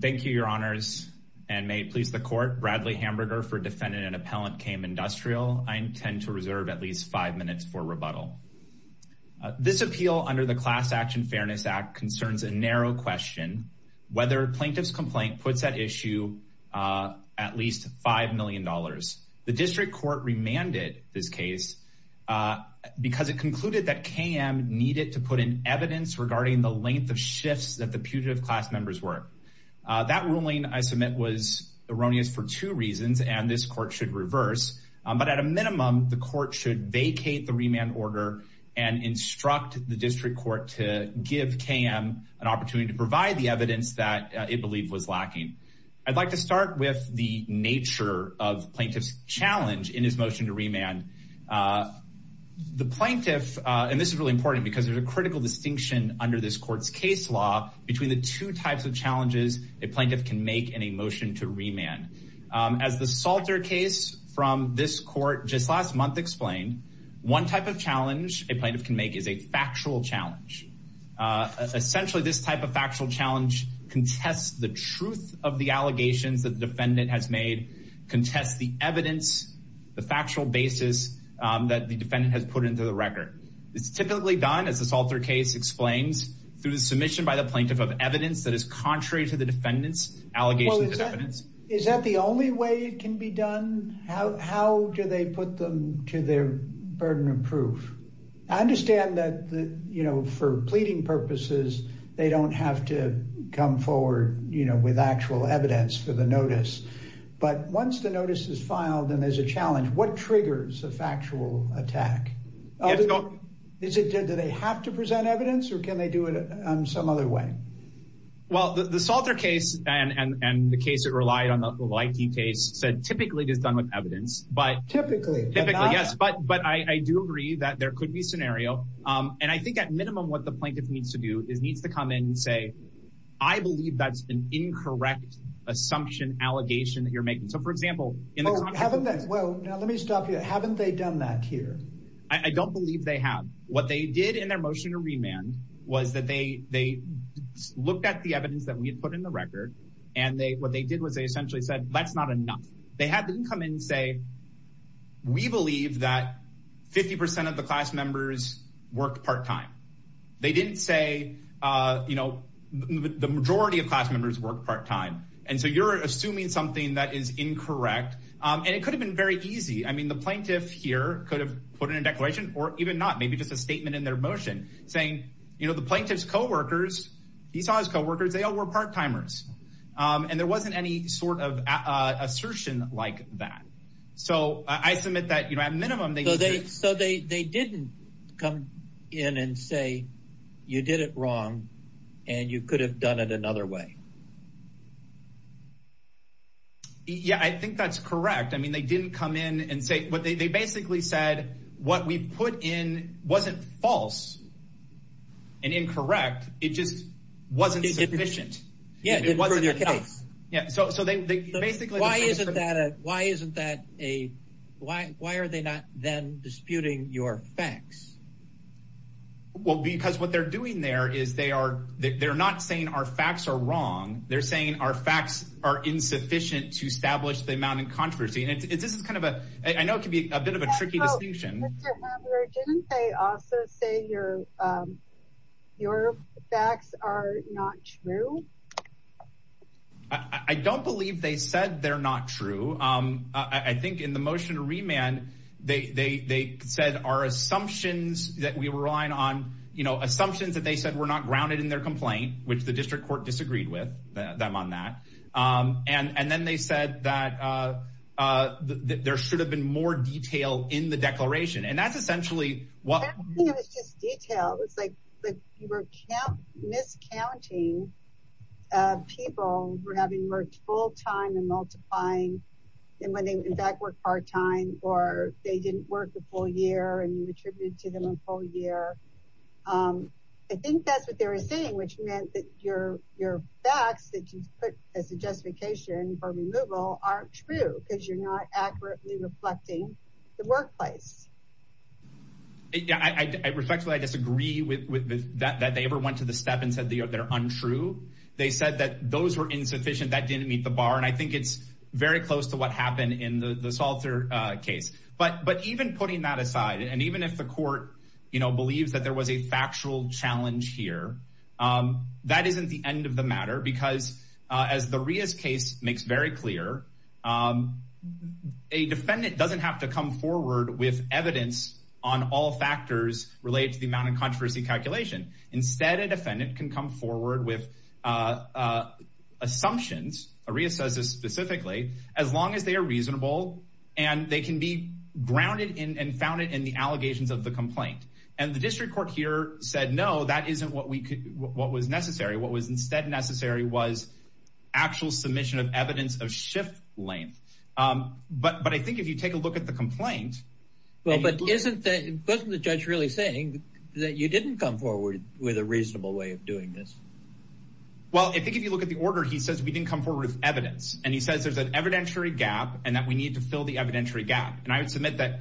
Thank you, your honors, and may it please the court. Bradley Hamburger for defendant and appellant KM Industrial. I intend to reserve at least five minutes for rebuttal. This appeal under the Class Action Fairness Act concerns a narrow question, whether plaintiff's complaint puts at issue at least five million dollars. The district court remanded this case because it concluded that KM needed to put in evidence regarding the length of shifts that the putative class members were. That ruling I submit was erroneous for two reasons, and this court should reverse, but at a minimum the court should vacate the remand order and instruct the district court to give KM an opportunity to provide the evidence that it believed was lacking. I'd like to start with the nature of plaintiff's challenge in his motion to remand. The plaintiff, and this is really important because there's a critical distinction under this court's case law between two types of challenges a plaintiff can make in a motion to remand. As the Salter case from this court just last month explained, one type of challenge a plaintiff can make is a factual challenge. Essentially, this type of factual challenge contests the truth of the allegations that the defendant has made, contests the evidence, the factual basis that the defendant has put into the record. It's typically done, as the Salter case explains, through the submission by the plaintiff to the district court. The plaintiff has to present evidence that is contrary to the defendant's allegations of evidence. Is that the only way it can be done? How do they put them to their burden of proof? I understand that, you know, for pleading purposes they don't have to come forward, you know, with actual evidence for the notice, but once the notice is filed and there's a challenge, what triggers a factual attack? Do they have to present evidence or can they do it some other way? Well, the Salter case and the case that relied on the Leike case said typically it is done with evidence, but typically, yes, but I do agree that there could be scenario, and I think at minimum what the plaintiff needs to do is needs to come in and say I believe that's an incorrect assumption, allegation that you're making. So, for example, haven't they, well now let me stop you, haven't they done that here? I don't believe they have. What they did in their motion to remand was that they looked at the evidence that we had put in the record, and what they did was they essentially said that's not enough. They had them come in and say we believe that 50 percent of the class members worked part-time. They didn't say, you know, the majority of class members work part-time, and so you're assuming something that is incorrect, and it could have been very easy. I mean, the plaintiff here could have put in a declaration or even not, maybe just a statement in their motion saying, you know, the plaintiff's co-workers, he saw his co-workers, they all were part-timers, and there wasn't any sort of assertion like that. So, I submit that, you know, at minimum, so they didn't come in and say you did it wrong, and you could have done it another way. Yeah, I think that's correct. I mean, they didn't come in and say, but they basically said what we put in wasn't false and incorrect. It just wasn't sufficient. Yeah, it wasn't your case. Yeah, so they basically, why isn't that a, why are they not then disputing your facts? Well, because what they're doing there is they are, they're not saying our facts are wrong. They're saying our facts are insufficient to establish the amount of controversy, and this is kind of a, I know it can be a bit of a tricky distinction. Didn't they also say your facts are not true? I don't believe they said they're not true. I think in the motion to remand, they said our assumptions that we were relying on, you know, assumptions that they said were not grounded in their complaint, which the district court disagreed with them on that, and then they said that there should have been more detail in the declaration, and that's essentially what- I don't think it was just detail. It was like you were miscounting people who were having worked full-time and multiplying, and when they, in fact, worked part-time, or they didn't work a full year, and you attributed to them a full year. I think that's what they were saying, which meant that your facts that you put as a justification for removal aren't true because you're not accurately reflecting the workplace. Yeah, I respectfully disagree with that they ever went to the step and said they're untrue. They said that those were insufficient, that didn't meet the bar, and I think it's very close to what happened in the Salter case, but even putting that aside, and even if the court, you know, believes that there was a factual challenge here, that isn't the end of the matter because, as the Ria's case makes very clear, a defendant doesn't have to come forward with evidence on all factors related to the amount of controversy calculation. Instead, a defendant can come forward with assumptions, Ria says this specifically, as long as they are the complaint, and the district court here said no, that isn't what we could, what was necessary. What was instead necessary was actual submission of evidence of shift length, but I think if you take a look at the complaint, well, but isn't that, wasn't the judge really saying that you didn't come forward with a reasonable way of doing this? Well, I think if you look at the order, he says we didn't come forward with evidence, and he says there's an evidentiary gap and that we need to fill the evidentiary gap, and I would submit that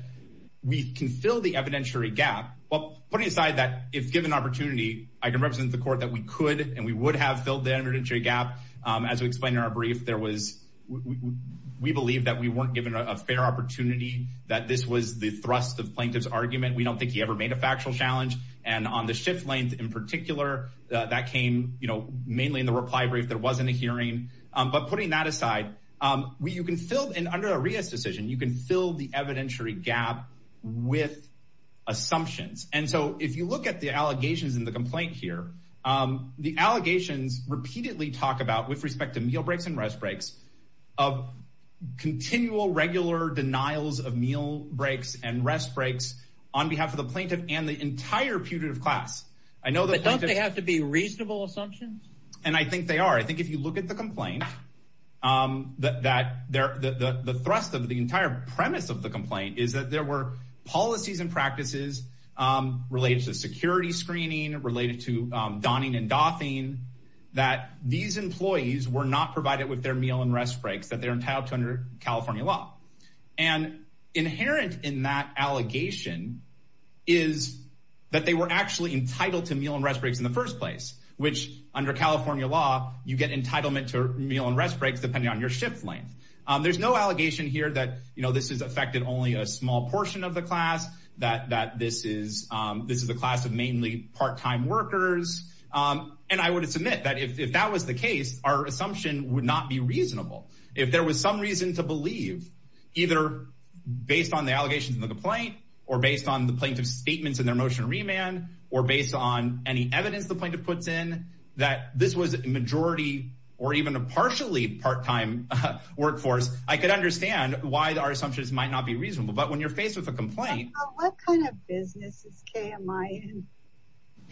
we can fill the evidentiary gap, but putting aside that, if given an opportunity, I can represent the court that we could and we would have filled the evidentiary gap, as we explained in our brief, there was, we believe that we weren't given a fair opportunity, that this was the thrust of plaintiff's argument, we don't think he ever made a factual challenge, and on the shift length in particular, that came, you know, mainly in the reply brief, there wasn't a hearing, but putting that aside, you can fill, and under a Ria's decision, you can fill the evidentiary gap with assumptions, and so if you look at the allegations in the complaint here, the allegations repeatedly talk about, with respect to meal breaks and rest breaks, of continual regular denials of meal breaks and rest breaks on behalf of the plaintiff and the entire putative class. I know, but don't they have to be reasonable assumptions? And I think they are, I think if you look at the complaint, the thrust of the entire premise of the complaint is that there were policies and practices related to security screening, related to donning and doffing, that these employees were not provided with their meal and rest breaks that they're entitled to under California law, and inherent in that allegation is that they were actually entitled to meal and rest breaks in the first place, which under California law, you get entitlement to meal and rest breaks depending on your shift length. There's no allegation here that, you know, this has affected only a small portion of the class, that this is a class of mainly part-time workers, and I would submit that if that was the case, our assumption would not be reasonable. If there was some reason to believe, either based on the allegations in the complaint, or based on the plaintiff's statements in their motion to remand, or based on any evidence the plaintiff puts in, that this was a majority or even a partially part-time workforce, I could understand why our assumptions might not be reasonable. But when you're faced with a complaint... What kind of business is KMI in?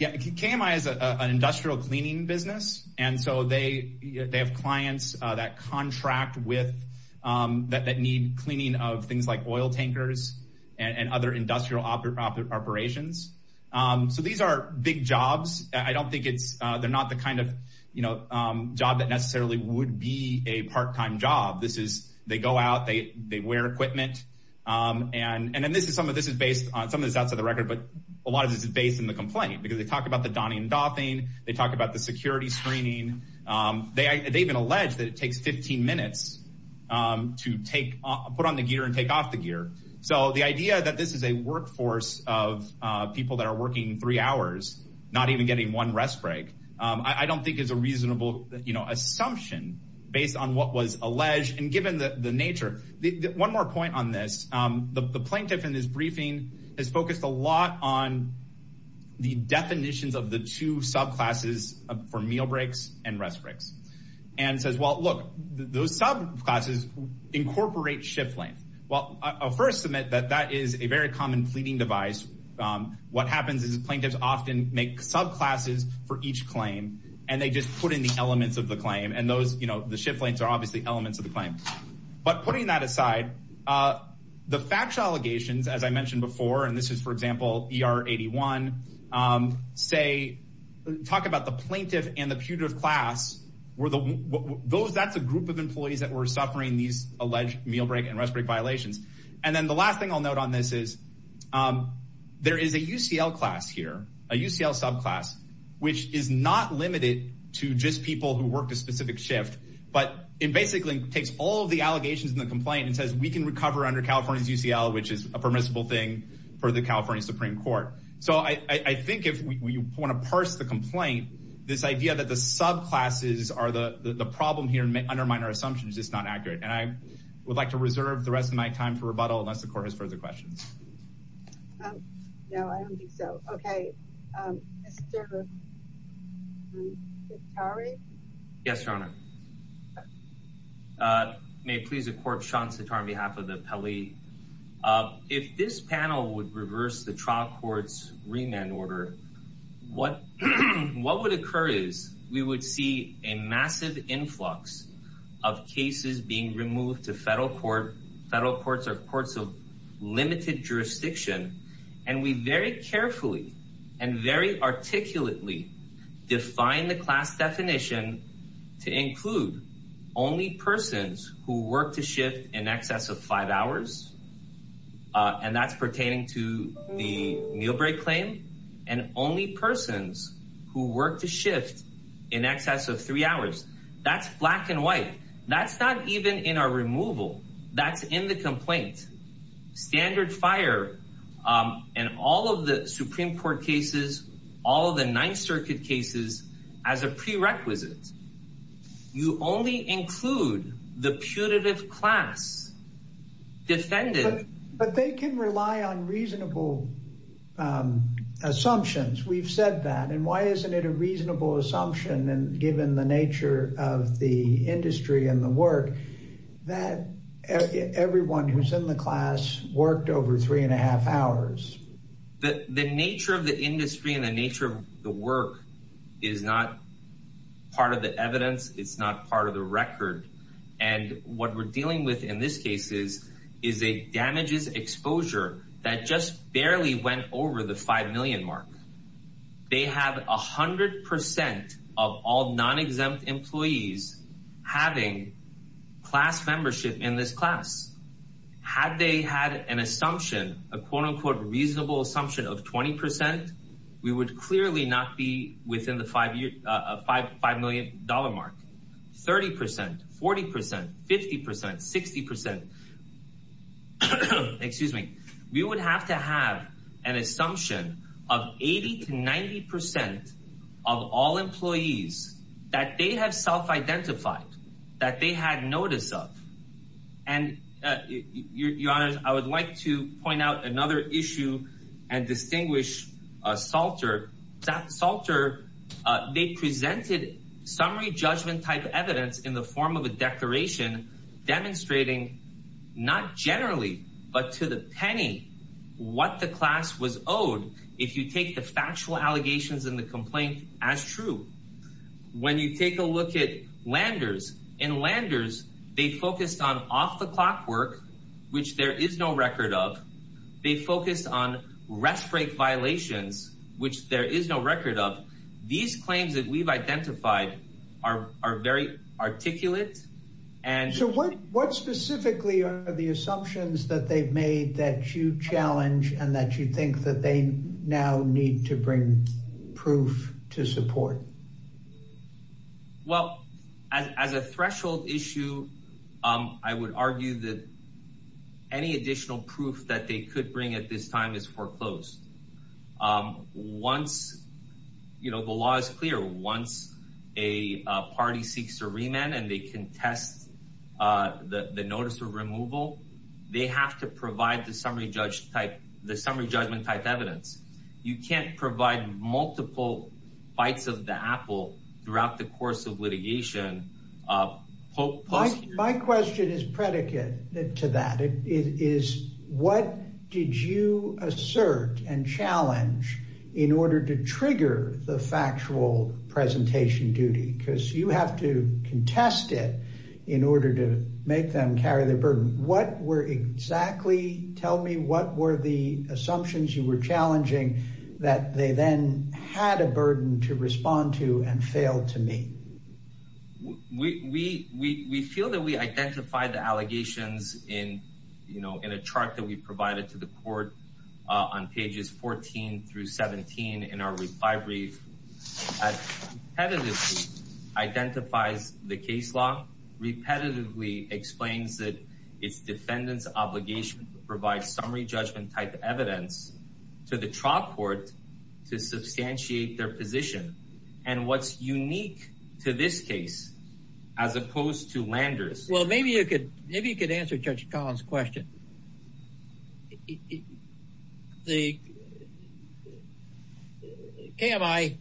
Yeah, KMI is an industrial cleaning business, and so they have clients that contract with, that need cleaning of things like oil tankers and other industrial operations. So these are big jobs. I don't think it's... They're not the kind of, you know, job that necessarily would be a part-time job. This is... They go out, they wear equipment, and then this is... Some of this is based on... Some of this is outside the record, but a lot of this is based in the complaint, because they talk about the donning and doffing, they talk about the security screening. They even allege that it takes 15 minutes to take... Put on the gear and take off the gear. So the idea that this is a workforce of people that are working three hours, not even getting one rest break, I don't think is a reasonable, you know, assumption based on what was alleged. And given the nature... One more point on this. The plaintiff in this briefing has focused a lot on the definitions of the two subclasses for meal breaks and rest breaks, and says, well look, those subclasses incorporate shift length. Well, I'll first submit that that is a very common pleading device. What happens is plaintiffs often make subclasses for each claim, and they just put in the elements of the claim, and those, you know, the shift lengths are elements of the claim. But putting that aside, the factual allegations, as I mentioned before, and this is, for example, ER 81, say, talk about the plaintiff and the putative class, that's a group of employees that were suffering these alleged meal break and rest break violations. And then the last thing I'll note on this is, there is a UCL class here, a UCL subclass, which is not limited to just people who worked a specific shift, but it basically takes all of the allegations in the complaint and says we can recover under California's UCL, which is a permissible thing for the California Supreme Court. So I think if you want to parse the complaint, this idea that the subclasses are the problem here and undermine our assumptions is just not accurate. And I would like to reserve the rest of my time for rebuttal unless the court has a question. Yes, Your Honor. May it please the court, Sean Sattar on behalf of the appellee. If this panel would reverse the trial court's remand order, what would occur is we would see a massive influx of cases being removed to federal court. Federal courts are courts of define the class definition to include only persons who work to shift in excess of five hours. And that's pertaining to the meal break claim and only persons who work to shift in excess of three hours. That's black and white. That's not even in our removal. That's in the complaint. Standard fire and all of the Supreme Court cases, all of the Ninth Circuit cases as a prerequisite. You only include the putative class defended. But they can rely on reasonable assumptions. We've said that. And why isn't it a reasonable assumption? And given the nature of the industry and the work that everyone who's in the class worked over three and a half hours, that the nature of the industry and the nature of the work is not part of the evidence. It's not part of the record. And what we're dealing with in this case is is a damages exposure that just barely went over the five million mark. They have 100 percent of all non-exempt employees having class membership in this class. Had they had an assumption, a quote unquote reasonable assumption of 20 percent, we would clearly not be within the five million dollar mark. 30 percent, 40 percent, 50 percent, 60 percent. Excuse me. We would have to have an assumption of 80 to 90 percent of all employees that they have self-identified, that they had notice of. And your honor, I would like to point out another issue and distinguish Salter. Salter, they presented summary judgment type evidence in the form of a declaration demonstrating not generally, but to the penny, what the class was owed if you take the factual allegations in the complaint as true. When you take a look at Landers, in Landers they focused on off the clock work, which there is no record of. They focused on rest break violations, which there is no record of. These claims that we've identified are very articulate. So what specifically are the assumptions that they've made that you challenge and that you think that they now need to bring proof to support? Well, as a threshold issue, I would argue that any additional proof that they could bring at this time is foreclosed. Once, you know, the law is clear, once a party seeks a remand and they contest the notice of removal, they have to provide the summary judge type, the summary judgment type evidence. You can't provide multiple bites of the apple throughout the course of litigation. My question is predicate to that. It is what did you assert and challenge in order to trigger the factual presentation duty? Because you have to contest it in order to make them carry their burden. What were exactly, tell me what were the assumptions you were challenging that they then had a burden to respond to and failed to meet? We feel that we identified the allegations in, you know, in a chart that we provided to the court on pages 14 through 17 in our reply brief. Repetitively identifies the case law, repetitively explains that its defendant's obligation to provide summary judgment type evidence to the trial court to substantiate their position and what's unique to this case as opposed to Landers. Well, maybe you could, maybe you could answer Judge Collins question. The KMI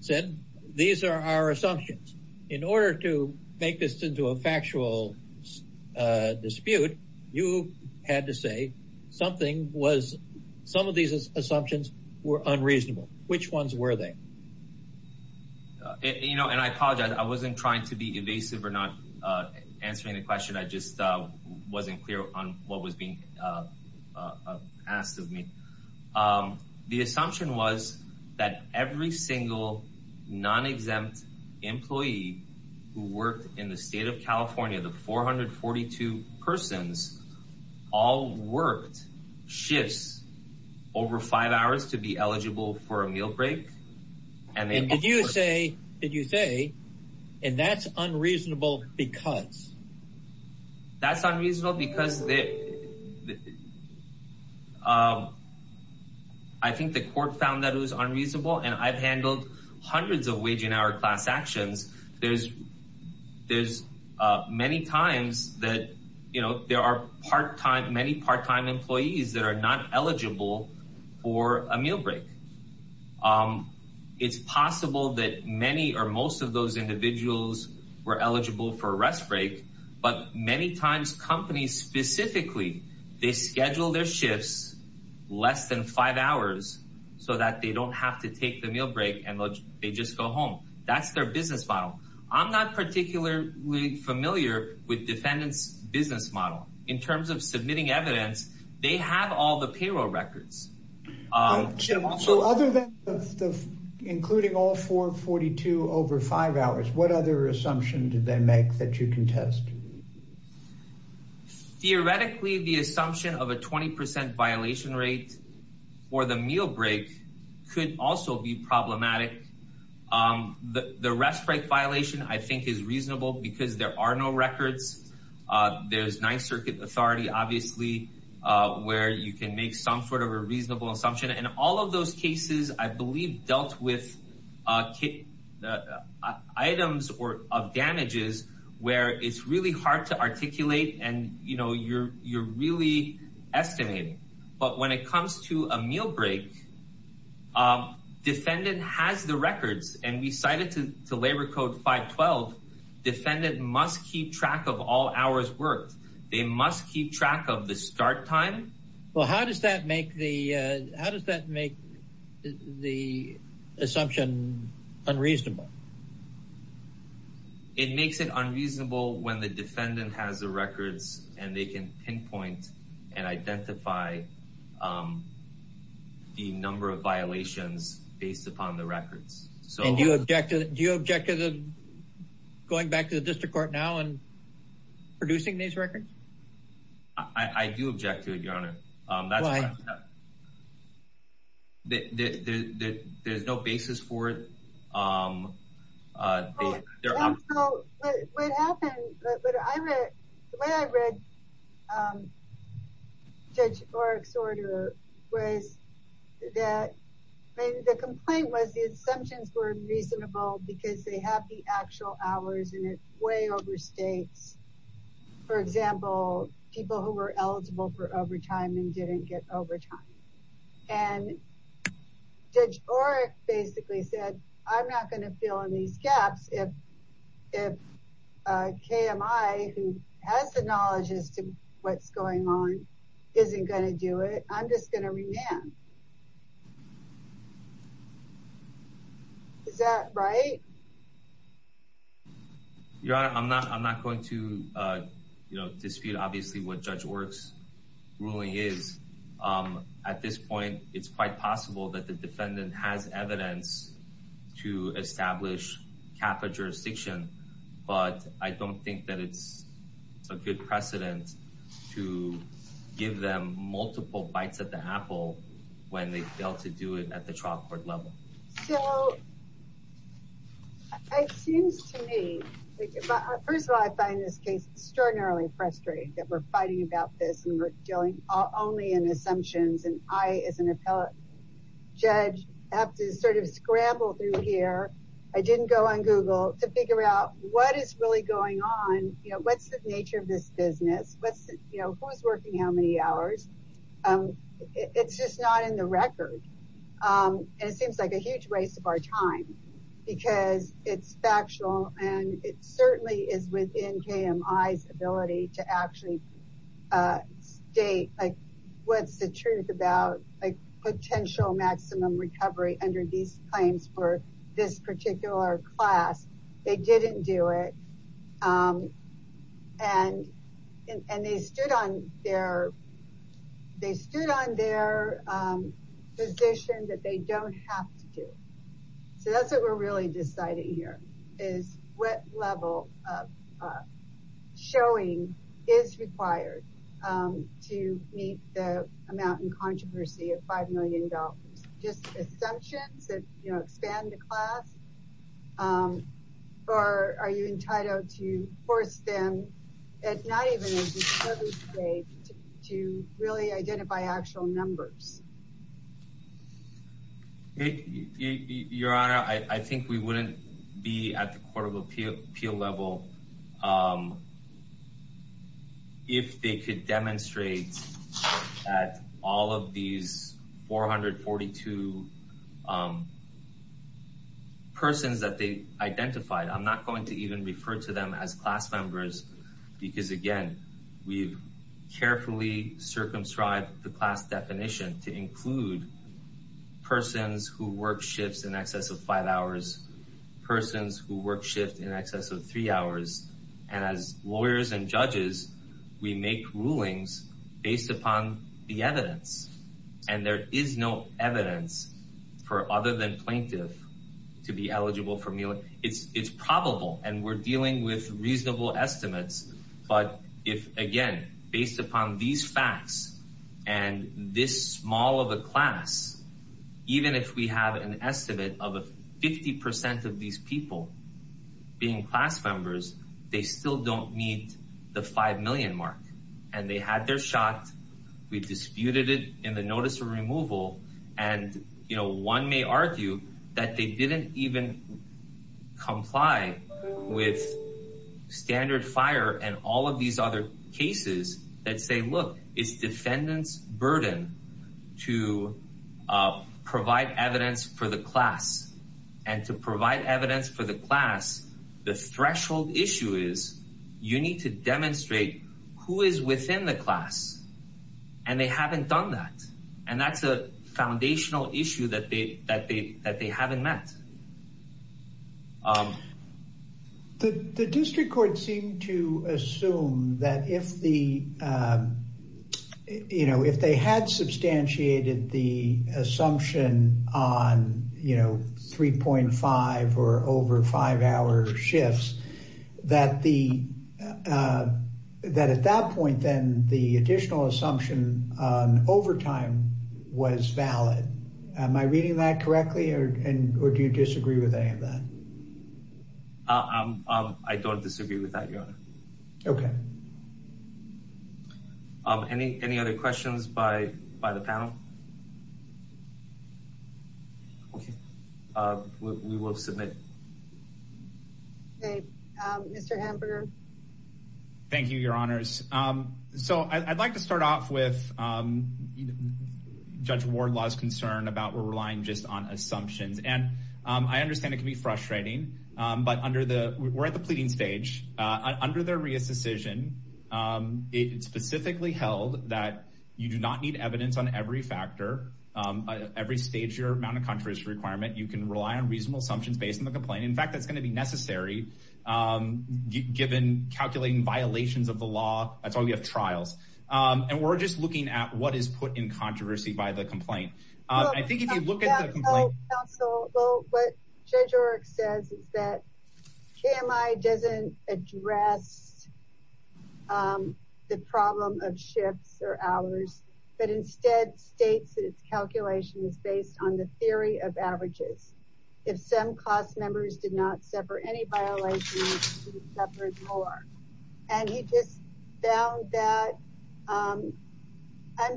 said, these are our assumptions. In order to make this into a factual dispute, you had to say something was, some of these assumptions were unreasonable. Which ones were they? You know, and I apologize. I wasn't trying to be evasive or not answering the question. I just wasn't clear on what was being asked of me. The assumption was that every single non-exempt employee who worked in the state of California, the 442 persons all worked shifts over five hours to be eligible for a meal break. And did you say, did you say, and that's unreasonable because? That's unreasonable because they, I think the court found that it was unreasonable and I've handled hundreds of wage and hour class actions. There's, there's many times that, you know, there are part-time, many part-time employees that are not eligible for a meal break. It's possible that many or most of those individuals were eligible for a rest break, but many times companies specifically, they schedule their shifts less than five hours so that they don't have to take the meal break and they just go home. That's their business model. I'm not particularly familiar with defendant's business model. In terms of submitting evidence, they have all the payroll records. So other than the, including all 442 over five hours, what other assumption did they make that you can test? Theoretically, the assumption of a 20% violation rate for the meal break could also be problematic. The rest break violation, I think is reasonable because there are no records. There's ninth circuit authority, obviously, where you can make some sort of a reasonable assumption. In all of those cases, I believe dealt with items or of damages where it's really hard to articulate and, you know, you're, you're really estimating. But when it comes to a meal break, defendant has the records and we cited to Labor Code 512, defendant must keep track of all hours worked. They must keep track of the start time. Well, how does that make the, how does that make the assumption unreasonable? It makes it unreasonable when the defendant has the records and they can pinpoint and identify the number of violations based upon the records. So do you object to going back to the district court now and producing these records? I do object to it, your honor. There's no basis for it. The way I read Judge Oreck's order was that the complaint was the assumptions were reasonable because they have the actual hours and it way overstates, for example, people who were eligible for overtime and didn't get overtime. And Judge Oreck basically said, I'm not going to fill in these gaps if KMI who has the knowledge as to what's going on, isn't going to do it. I'm just going to remand. Is that right? Your honor, I'm not, I'm not going to dispute obviously what Judge Oreck's ruling is. At this point, it's quite possible that the defendant has evidence to establish capital jurisdiction, but I don't think that it's a good precedent to give them multiple bites at the apple when they fail to do it at the trial court level. It seems to me, first of all, I find this case extraordinarily frustrating that we're fighting about this and we're dealing only in assumptions. And I, as an appellate judge, have to sort of scramble through here. I didn't go on Google to figure out what is really going on. What's the nature of this business? Who's working how many hours? It's just not in the record. And it seems like a huge waste of our time because it's factual and it certainly is within KMI's ability to actually state what's the truth about potential maximum recovery under these claims for this particular class. They didn't do it. And they stood on their position that they don't have to do. So that's what we're really deciding here is what level of showing is expand the class? Or are you entitled to force them at night to really identify actual numbers? Your Honor, I think we wouldn't be at the court of appeal level if they could demonstrate at all of these 442 persons that they identified. I'm not going to even refer to them as class members because, again, we've carefully circumscribed the class definition to include persons who work shifts in excess of five hours, persons who work shift in excess of three hours. And as lawyers and judges, we make rulings based upon the evidence. And there is no evidence for other than plaintiff to be eligible for meal. It's probable. And we're dealing with even if we have an estimate of 50 percent of these people being class members, they still don't meet the five million mark. And they had their shot. We disputed it in the notice of removal. And, you know, one may argue that they didn't even comply with standard fire and all of these other cases that say, look, it's defendant's burden to provide evidence for the class and to provide evidence for the class. The threshold issue is you need to demonstrate who is within the class. And they haven't done that. And that's a foundational issue that they haven't met. The district court seemed to assume that if the, you know, if they had substantiated the assumption on, you know, 3.5 or over five hour shifts, that the that at that point, then the agree with that. I don't disagree with that. OK. Any any other questions by by the panel? OK, we will submit. Hey, Mr. Hamburger. Thank you, your honors. So I'd like to start off with Judge Ward Law's concern about we're relying just on assumptions. And I understand it can be frustrating. But under the we're at the pleading stage under their reassertion, it's specifically held that you do not need evidence on every factor, every stage, your amount of controversy requirement. You can rely on reasonable assumptions based on the complaint. In fact, that's going to be necessary given calculating violations of the law. That's looking at what is put in controversy by the complaint. I think if you look at the complaint. Well, what Judge O'Rourke says is that KMI doesn't address the problem of shifts or hours, but instead states that its calculation is based on the theory of averages. If some class members did not separate any violations, separate more. And he just found that I'm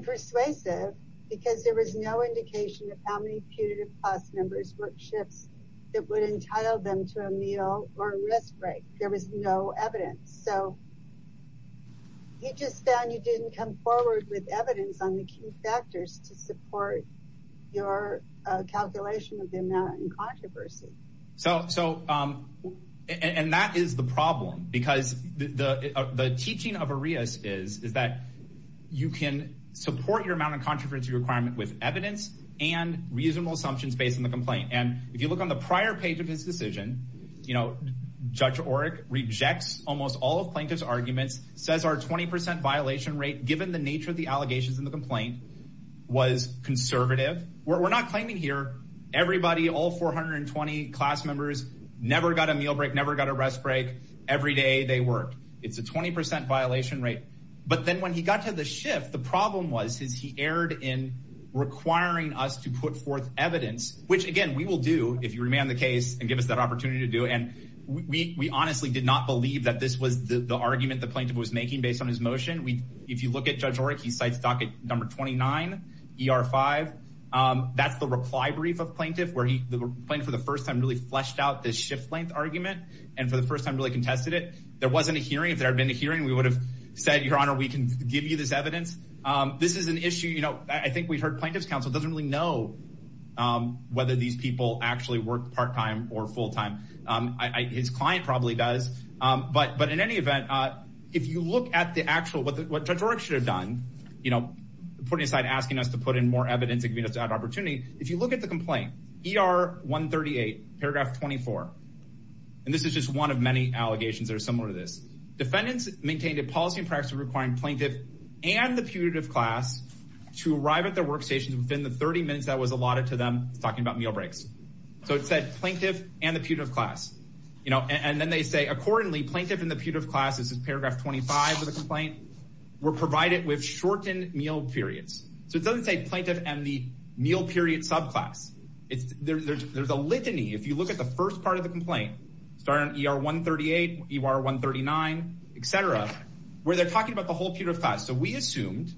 persuasive because there was no indication of how many punitive class members work shifts that would entail them to a meal or a risk break. There was no evidence so. He just found you didn't come forward with evidence on the key factors to support your calculation of the amount in controversy. So so and that is the problem because the teaching of Arias is is that you can support your amount of controversy requirement with evidence and reasonable assumptions based on the complaint. And if you look on the prior page of his decision, you know, Judge O'Rourke rejects almost all of plaintiff's arguments, says our 20% violation rate, given the nature of the allegations in the complaint, was conservative. We're not claiming here. Everybody, all 420 class members, never got a meal break, never got a rest break. Every day they worked. It's a 20% violation rate. But then when he got to the shift, the problem was is he erred in requiring us to put forth evidence, which again, we will do if you remand the case and give us that opportunity to do. And we honestly did not believe that this was the argument the plaintiff was making based on his motion. If you look at Judge O'Rourke, he cites docket number 29 ER5. That's the reply brief of the shift length argument. And for the first time really contested it. There wasn't a hearing. If there had been a hearing, we would have said, Your Honor, we can give you this evidence. This is an issue, you know, I think we've heard plaintiff's counsel doesn't really know whether these people actually work part time or full time. His client probably does. But in any event, if you look at the actual, what Judge O'Rourke should have done, you know, putting aside asking us to put in more evidence and give us that opportunity. If you look at the complaint, ER138, paragraph 24. And this is just one of many allegations that are similar to this. Defendants maintained a policy and practice requiring plaintiff and the putative class to arrive at their workstations within the 30 minutes that was allotted to them, talking about meal breaks. So it said plaintiff and the putative class, you know, and then they say accordingly plaintiff and the putative class, this is paragraph 25 of the complaint, were provided with shortened meal periods. So it doesn't say plaintiff and the meal period subclass. There's a litany, if you look at the first part of the complaint, starting ER138, ER139, et cetera, where they're talking about the whole putative class. So we assumed,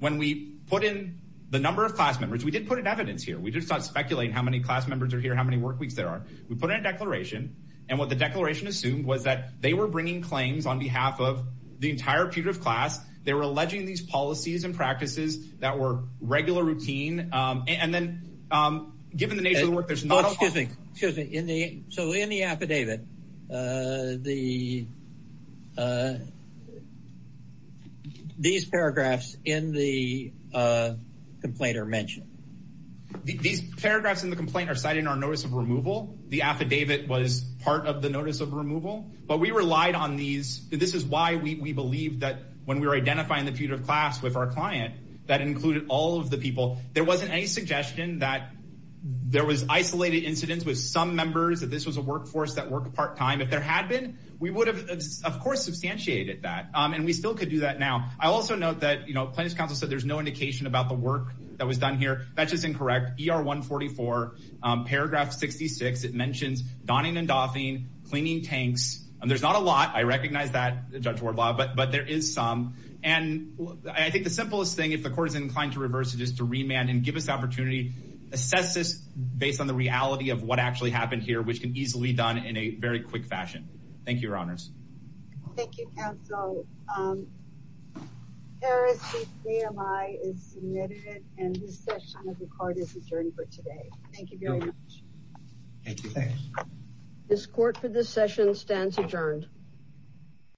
when we put in the number of class members, we did put in evidence here. We did start speculating how many class members are here, how many work weeks there are. We put in a declaration. And what the declaration assumed was that they were bringing claims on behalf of the entire putative class. They were alleging these policies and practices that were regular routine. And then given the nature of the work, there's not... Excuse me. So in the affidavit, these paragraphs in the complaint are mentioned. These paragraphs in the complaint are cited in our notice of removal. The affidavit was part of the notice of removal, but we relied on these. This is why we believe that when we were identifying the putative class with our client, that included all of the people, there wasn't any suggestion that there was isolated incidents with some members, that this was a workforce that worked part-time. If there had been, we would have, of course, substantiated that. And we still could do that now. I also note that plaintiff's counsel said there's no indication about the work that was done here. That's just incorrect. ER144, paragraph 66, it mentions donning and doffing, cleaning tanks. And there's not a lot. I recognize that, Judge Wardlaw, but there is some. And I think the simplest thing, if the court is inclined to reverse it, is to remand and give us the opportunity, assess this based on the reality of what actually happened here, which can easily be done in a very quick fashion. Thank you, Your Honors. Thank you, counsel. Harris v. CMI is submitted, and this session of the Court is adjourned for today. Thank you very much. Thank you. This Court for this session stands adjourned.